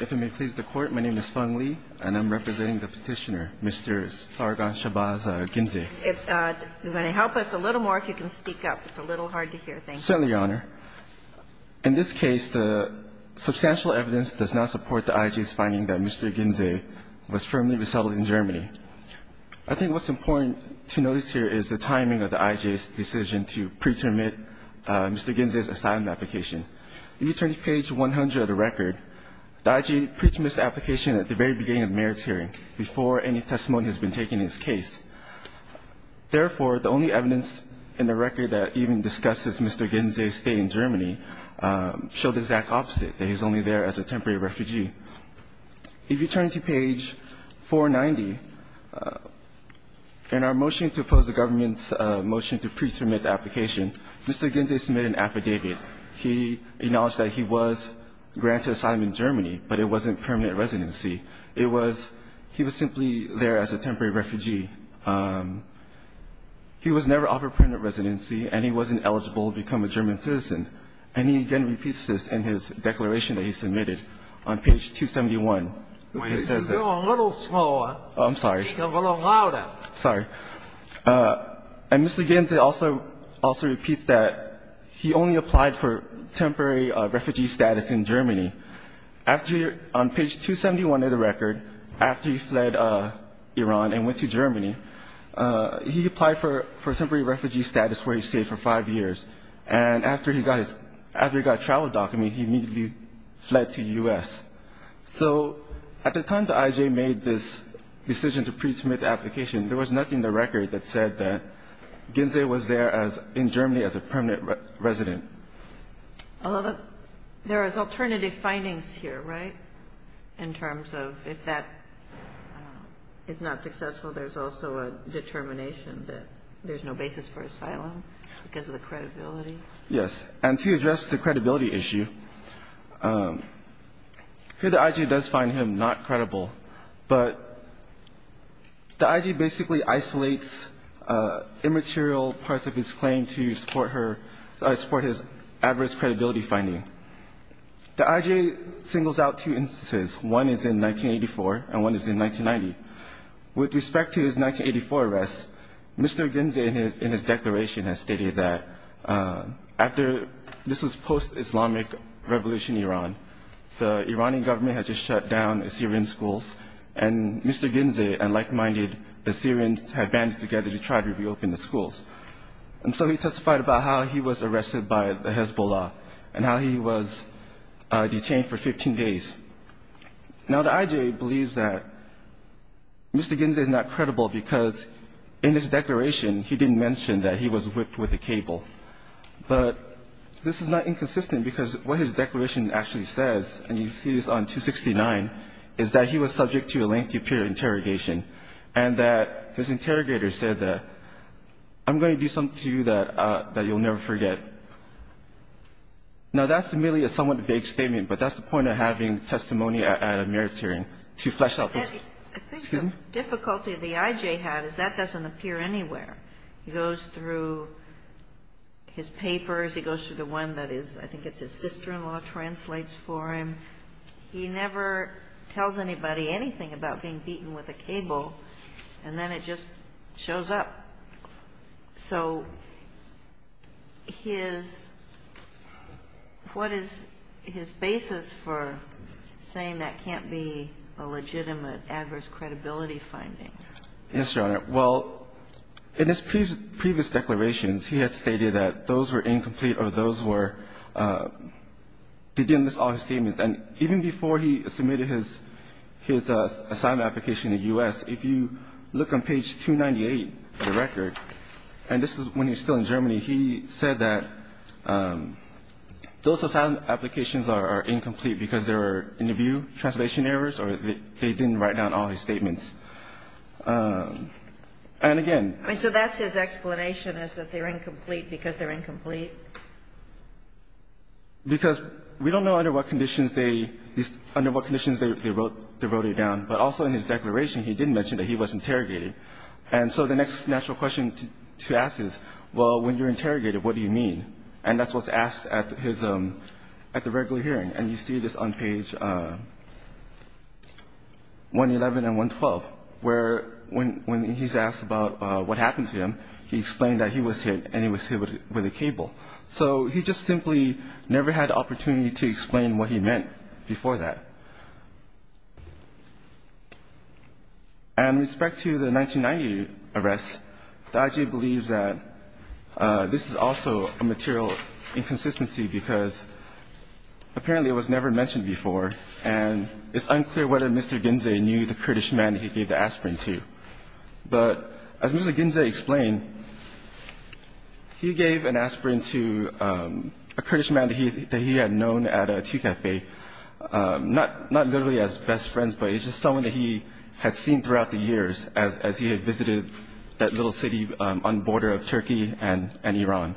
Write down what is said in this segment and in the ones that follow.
If it may please the Court, my name is Feng Li, and I'm representing the Petitioner, Mr. Sargon Shabbaz Ginze. If you're going to help us a little more, if you can speak up. It's a little hard to hear. Thank you. Certainly, Your Honor. In this case, the substantial evidence does not support the IJ's finding that Mr. Ginze was firmly resettled in Germany. I think what's important to notice here is the timing of the IJ's decision to preterminate Mr. Ginze's asylum application. If you turn to page 100 of the record, the IJ pretermined this application at the very beginning of the mayor's hearing, before any testimony has been taken in this case. Therefore, the only evidence in the record that even discusses Mr. Ginze's stay in Germany show the exact opposite, that he's only there as a temporary refugee. If you turn to page 490, in our motion to oppose the government's motion to preterminate the application, Mr. Ginze submitted an affidavit. He acknowledged that he was granted asylum in Germany, but it wasn't permanent residency. It was he was simply there as a temporary refugee. He was never offered permanent residency, and he wasn't eligible to become a German citizen. And he again repeats this in his declaration that he submitted on page 271, where he says that he's only there as a temporary refugee. He applied for temporary refugee status in Germany. On page 271 of the record, after he fled Iran and went to Germany, he applied for temporary refugee status, where he stayed for five years. And after he got a travel document, he immediately fled to the U.S. So at the time the IJ made this decision to preterminate the application, there was nothing in the record that said that Ginze was there in Germany as a permanent resident. Although there is alternative findings here, right, in terms of if that is not successful, there's also a determination that there's no basis for asylum because of the credibility? Yes. And to address the credibility issue, here the IJ does find him not credible, but the IJ basically isolates immaterial parts of his claim to support her or support his adverse credibility finding. The IJ singles out two instances. One is in 1984, and one is in 1990. With respect to his 1984 arrest, Mr. Ginze in his declaration has stated that after this was post-Islamic Revolution Iran, the Iranian government had just shut down Assyrian schools, and Mr. Ginze and like-minded Assyrians had banded together to try to reopen the schools. And so he testified about how he was arrested by the Hezbollah and how he was detained for 15 days. Now the IJ believes that Mr. Ginze is not credible because in his declaration, he didn't mention that he was whipped with a cable. But this is not inconsistent because what his declaration actually says, and you see this on 269, is that he was subject to a lengthy period of interrogation. And that his interrogator said, I'm going to do something to you that you'll never forget. Now that's merely a somewhat vague statement, but that's the point of having testimony at a marriage hearing, to flesh out this. Excuse me? Difficulty the IJ had is that doesn't appear anywhere. He goes through his papers. He goes through the one that is, I think it's his sister-in-law, translates for him. He never tells anybody anything about being beaten with a cable, and then it just shows up. So what is his basis for saying that can't be a legitimate adverse credibility finding? Yes, Your Honor. Well, in his previous declarations, he had stated that those were incomplete or those were, he didn't list all his statements. And even before he submitted his assignment application in the U.S., if you look on page 298 of the record, and this is when he was still in Germany, he said that those assignment applications are incomplete because they were interview, translation errors, or they didn't write down all his statements. And again- So that's his explanation is that they're incomplete because they're incomplete? Because we don't know under what conditions they wrote it down. But also in his declaration, he didn't mention that he was interrogated. And so the next natural question to ask is, well, when you're interrogated, what do you mean? And that's what's asked at his, at the regular hearing. And you see this on page 111 and 112, where when he's asked about what happened to him, he explained that he was hit and he was hit with a cable. So he just simply never had the opportunity to explain what he meant before that. And with respect to the 1990 arrest, the IG believes that this is also a material inconsistency, because apparently it was never mentioned before. And it's unclear whether Mr. Ginze knew the British man he gave the aspirin to. But as Mr. Ginze explained, he gave an aspirin to a Kurdish man that he had known at a tea cafe, not literally as best friends, but it's just someone that he had seen throughout the years as he had visited that little city on the border of Turkey and Iran.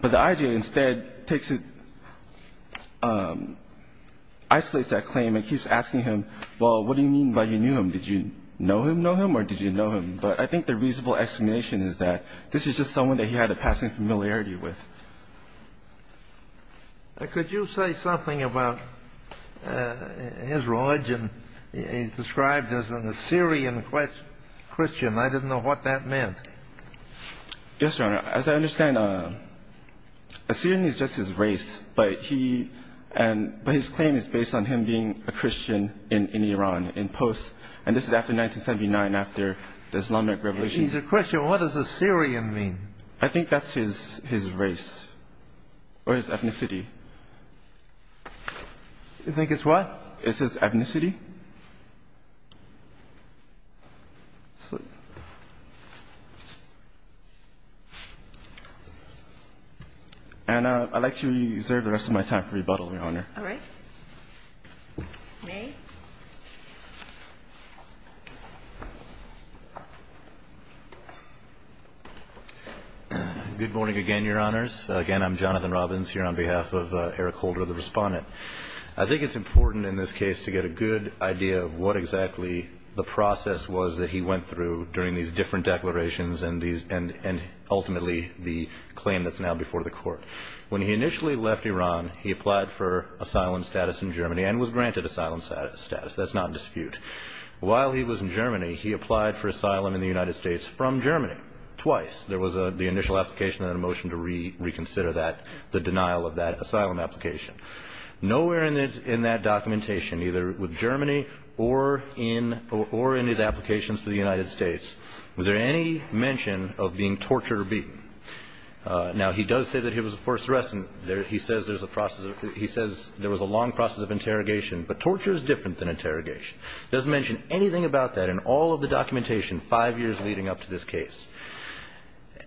But the IG instead takes it, isolates that claim and keeps asking him, well, what do you mean by you knew him? Did you know him, know him, or did you know him? But I think the reasonable explanation is that this is just someone that he had a passing familiarity with. Could you say something about his religion? He's described as an Assyrian Christian. I didn't know what that meant. Yes, Your Honor. As I understand, Assyrian is just his race. But his claim is based on him being a Christian in Iran, in post, and this is after 1979, after the Islamic Revolution. He's a Christian. What does Assyrian mean? I think that's his race, or his ethnicity. You think it's what? It's his ethnicity. And I'd like to reserve the rest of my time for rebuttal, Your Honor. All right. May. Good morning again, Your Honors. Again, I'm Jonathan Robbins here on behalf of Eric Holder, the respondent. I think it's important in this case to get a good idea of what exactly the process was that he went through during these different declarations and ultimately the claim that's now before the court. When he initially left Iran, he applied for asylum status in Germany and was granted asylum status. That's not in dispute. While he was in Germany, he applied for asylum in the United States from Germany, twice. There was the initial application and a motion to reconsider that, the denial of that asylum application. Nowhere in that documentation, either with Germany or in his applications for the United States, was there any mention of being tortured or beaten. Now, he does say that he was a forceress. He says there was a long process of interrogation, but no interrogation. Doesn't mention anything about that in all of the documentation five years leading up to this case.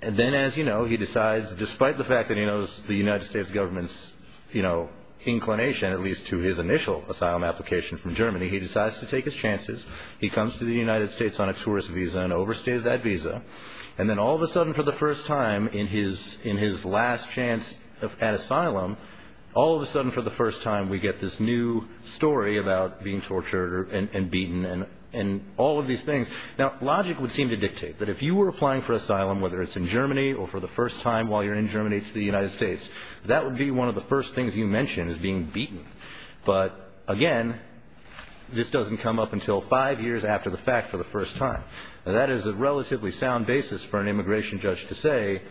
Then, as you know, he decides, despite the fact that he knows the United States government's inclination, at least to his initial asylum application from Germany, he decides to take his chances. He comes to the United States on a tourist visa and overstays that visa. And then all of a sudden, for the first time in his last chance at asylum, all of a sudden for the first time, we get this new story about being tortured and beaten and all of these things. Now, logic would seem to dictate that if you were applying for asylum, whether it's in Germany or for the first time while you're in Germany to the United States, that would be one of the first things you mention is being beaten. But again, this doesn't come up until five years after the fact for the first time. Now, that is a relatively sound basis for an immigration judge to say,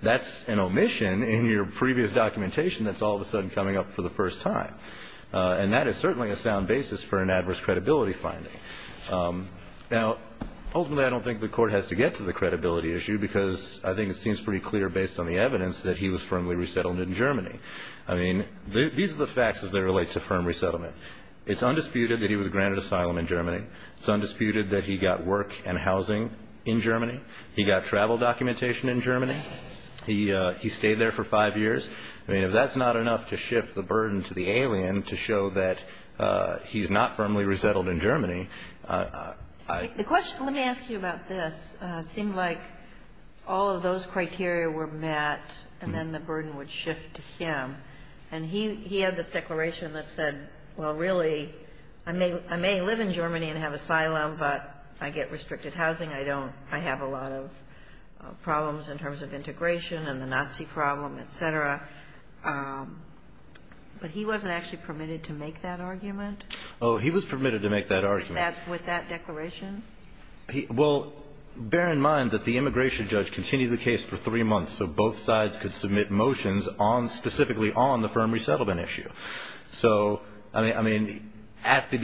that's an omission in your previous documentation that's all of a sudden coming up for the first time, and that is certainly a sound basis for an adverse credibility finding. Now, ultimately, I don't think the court has to get to the credibility issue, because I think it seems pretty clear, based on the evidence, that he was firmly resettled in Germany. I mean, these are the facts as they relate to firm resettlement. It's undisputed that he was granted asylum in Germany. It's undisputed that he got work and housing in Germany. He got travel documentation in Germany. He stayed there for five years. I mean, if that's not enough to shift the burden to the alien to show that he's not firmly resettled in Germany, I- The question, let me ask you about this. It seemed like all of those criteria were met, and then the burden would shift to him. And he had this declaration that said, well, really, I may live in Germany and have asylum, but I get restricted housing. I don't, I have a lot of problems in terms of integration and the Nazi problem, etc. But he wasn't actually permitted to make that argument? He was permitted to make that argument. With that declaration? Well, bear in mind that the immigration judge continued the case for three months, so both sides could submit motions specifically on the firm resettlement issue. So, I mean, at the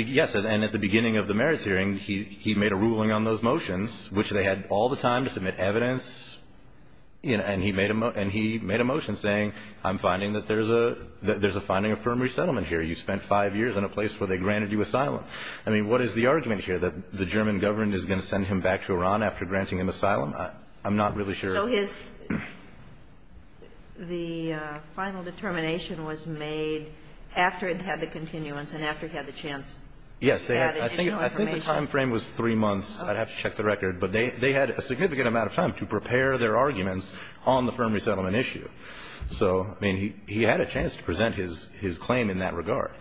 beginning of the merits hearing, he made a ruling on those motions, which they had all the time to submit evidence, and he made a motion saying, I'm finding that there's a finding of firm resettlement here. You spent five years in a place where they granted you asylum. I mean, what is the argument here, that the German government is going to send him back to Iran after granting him asylum? I'm not really sure. So his, the final determination was made after it had the continuance and after it had the chance to add additional information? Yes, I think the time frame was three months. I'd have to check the record. But they had a significant amount of time to prepare their arguments on the firm resettlement issue. So, I mean, he had a chance to present his claim in that regard.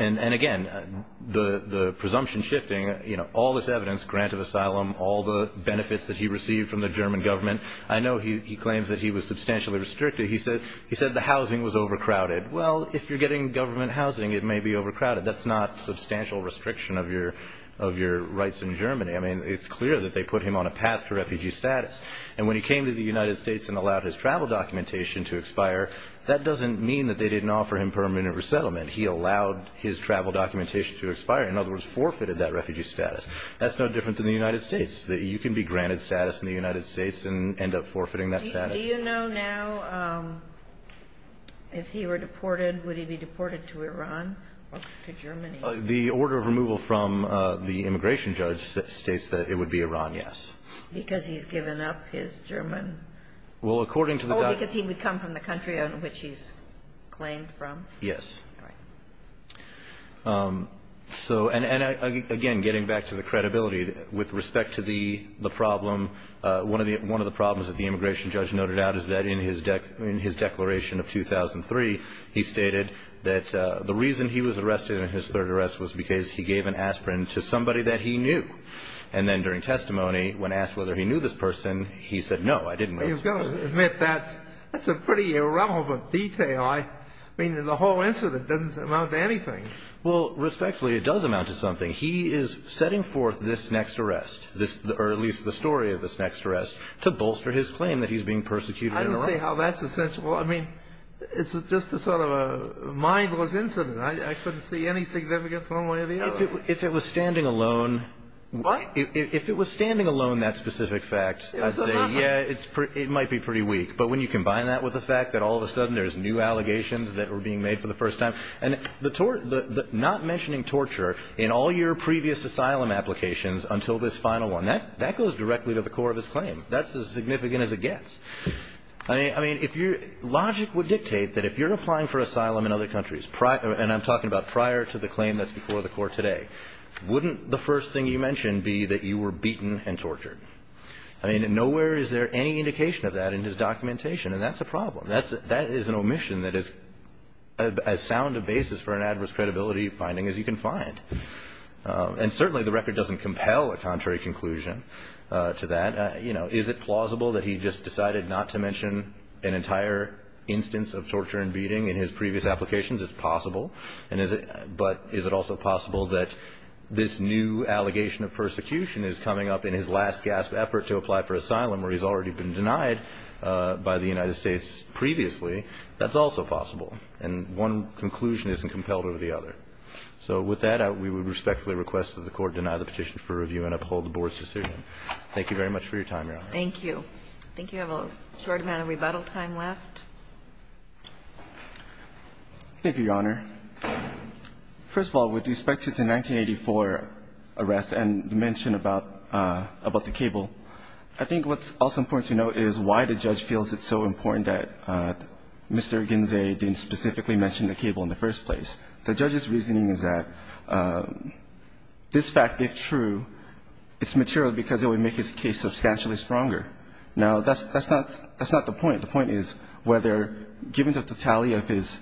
And again, the presumption shifting, all this evidence, grant of asylum, all the benefits that he received from the German government. I know he claims that he was substantially restricted. He said the housing was overcrowded. Well, if you're getting government housing, it may be overcrowded. That's not substantial restriction of your rights in Germany. I mean, it's clear that they put him on a path to refugee status. And when he came to the United States and allowed his travel documentation to expire, that doesn't mean that they didn't offer him permanent resettlement. He allowed his travel documentation to expire. In other words, forfeited that refugee status. That's no different than the United States. That you can be granted status in the United States and end up forfeiting that status. Do you know now if he were deported, would he be deported to Iran or to Germany? The order of removal from the immigration judge states that it would be Iran, yes. Because he's given up his German. Well, according to the document. Oh, because he would come from the country on which he's claimed from? Yes. All right. So, and again, getting back to the credibility, with respect to the problem, one of the problems that the immigration judge noted out is that in his declaration of 2003, he stated that the reason he was arrested in his third arrest was because he gave an aspirin to somebody that he knew. And then during testimony, when asked whether he knew this person, he said, no, I didn't know this person. You've got to admit, that's a pretty irrelevant detail. I mean, the whole incident doesn't amount to anything. Well, respectfully, it does amount to something. He is setting forth this next arrest, or at least the story of this next arrest, to bolster his claim that he's being persecuted in Iran. I don't see how that's essential. I mean, it's just a sort of a mindless incident. I couldn't see anything that would get thrown one way or the other. If it was standing alone. What? If it was standing alone, that specific fact, I'd say, yeah, it might be pretty weak, but when you combine that with the fact that all of a sudden there's new allegations that were being made for the first time. And the tort, the not mentioning torture in all your previous asylum applications until this final one, that goes directly to the core of his claim. That's as significant as it gets. I mean, if your logic would dictate that if you're applying for asylum in other countries, and I'm talking about prior to the claim that's before the court today, wouldn't the first thing you mentioned be that you were beaten and tortured? I mean, nowhere is there any indication of that in his documentation, and that's a problem. That is an omission that is as sound a basis for an adverse credibility finding as you can find. And certainly the record doesn't compel a contrary conclusion to that. Is it plausible that he just decided not to mention an entire instance of torture and beating in his previous applications? It's possible, but is it also possible that this new allegation of persecution is coming up in his last gasp effort to apply for asylum where he's already been previously, that's also possible, and one conclusion isn't compelled over the other. So with that, we would respectfully request that the court deny the petition for review and uphold the board's decision. Thank you very much for your time, Your Honor. Thank you. I think you have a short amount of rebuttal time left. Thank you, Your Honor. First of all, with respect to the 1984 arrest and the mention about the cable, I think what's also important to note is why the judge feels it's so important that Mr. Ginzey didn't specifically mention the cable in the first place. The judge's reasoning is that this fact, if true, it's material because it would make his case substantially stronger. Now, that's not the point. The point is whether, given the totality of his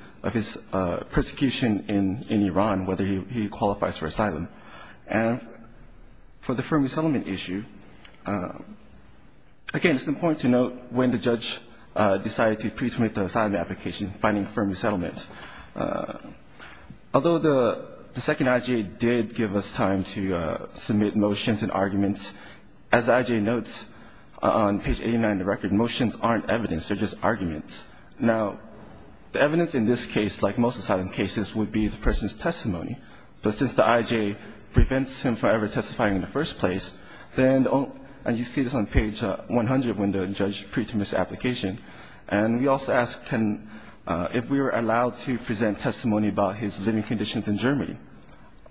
persecution in Iran, whether he qualifies for asylum. And for the firm resettlement issue, again, it's important to note when the judge decided to pre-submit the asylum application, finding firm resettlement. Although the second IJA did give us time to submit motions and arguments, as the IJA notes on page 89 of the record, motions aren't evidence, they're just arguments. Now, the evidence in this case, like most asylum cases, would be the person's testimony. But since the IJA prevents him from ever testifying in the first place, then, and you see this on page 100 when the judge pre-submits the application, and we also ask if we are allowed to present testimony about his living conditions in Germany.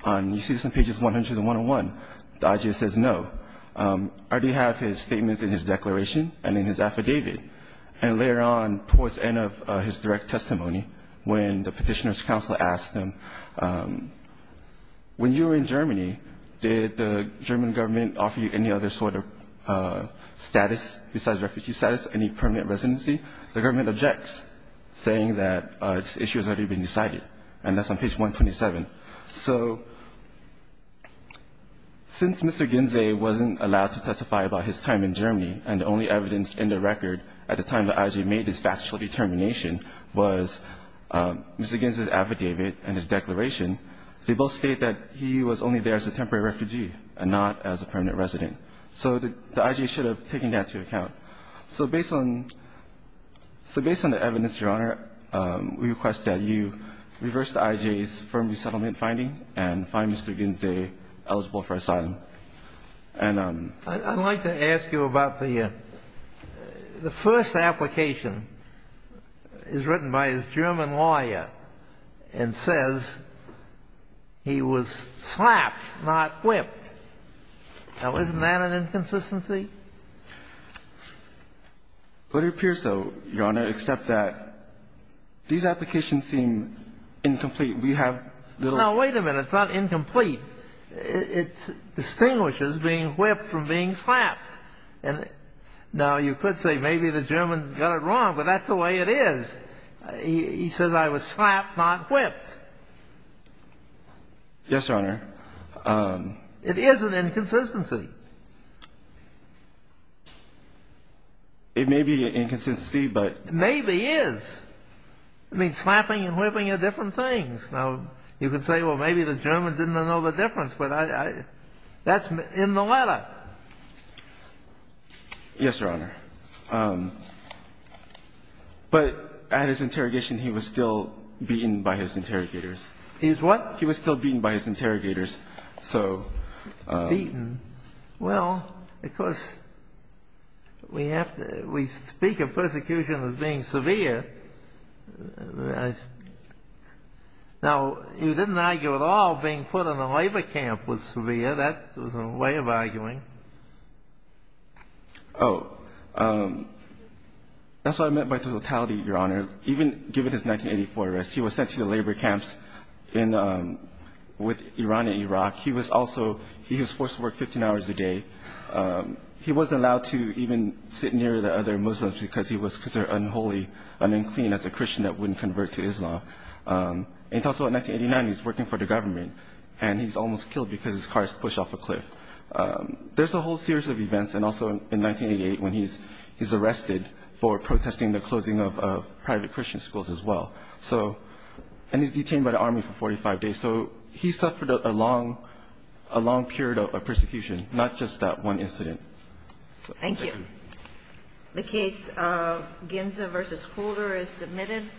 And you see this on pages 100 and 101, the IJA says no. I already have his statements in his declaration and in his affidavit. And later on, towards the end of his direct testimony, when the petitioner's counsel asked him, when you were in Germany, did the German government offer you any other sort of status besides refugee status, any permanent residency, the government objects, saying that this issue has already been decided. And that's on page 127. So since Mr. Ginzey wasn't allowed to testify about his time in Germany, and the only evidence in the record at the time the IJA made this factual determination was Mr. Ginzey's affidavit and his declaration, they both state that he was only there as a temporary refugee and not as a permanent resident. So the IJA should have taken that into account. So based on the evidence, Your Honor, we request that you reverse the IJA's firm resettlement finding and find Mr. Ginzey eligible for asylum. And I'm I'd like to ask you about the first application is written by his German lawyer and says he was slapped, not whipped. Now, isn't that an inconsistency? It appears so, Your Honor, except that these applications seem incomplete. We have little Now, wait a minute. It's not incomplete. It distinguishes being whipped from being slapped. And now you could say maybe the German got it wrong, but that's the way it is. He says I was slapped, not whipped. Yes, Your Honor. It is an inconsistency. It may be an inconsistency, but Maybe is. I mean, slapping and whipping are different things. Now, you can say, well, maybe the German didn't know the difference, but that's in the letter. Yes, Your Honor. But at his interrogation, he was still beaten by his interrogators. He was what? He was still beaten by his interrogators. So. Beaten? Well, of course, we have to we speak of persecution as being severe. Now, you didn't argue at all being put in a labor camp was severe. That was a way of arguing. Oh, that's what I meant by the totality, Your Honor. Even given his 1984 arrest, he was sent to the labor camps with Iran and Iraq. He was also he was forced to work 15 hours a day. He wasn't allowed to even sit near the other Muslims because he was considered unholy and unclean as a Christian that wouldn't convert to Islam. And also in 1989, he's working for the government and he's almost killed because his car is pushed off a cliff. There's a whole series of events. And also in 1988, when he's he's arrested for protesting the closing of private Christian schools as well. So and he's detained by the army for 45 days. So he suffered a long, a long period of persecution, not just that one incident. Thank you. The case of Ginza versus Holder is submitted.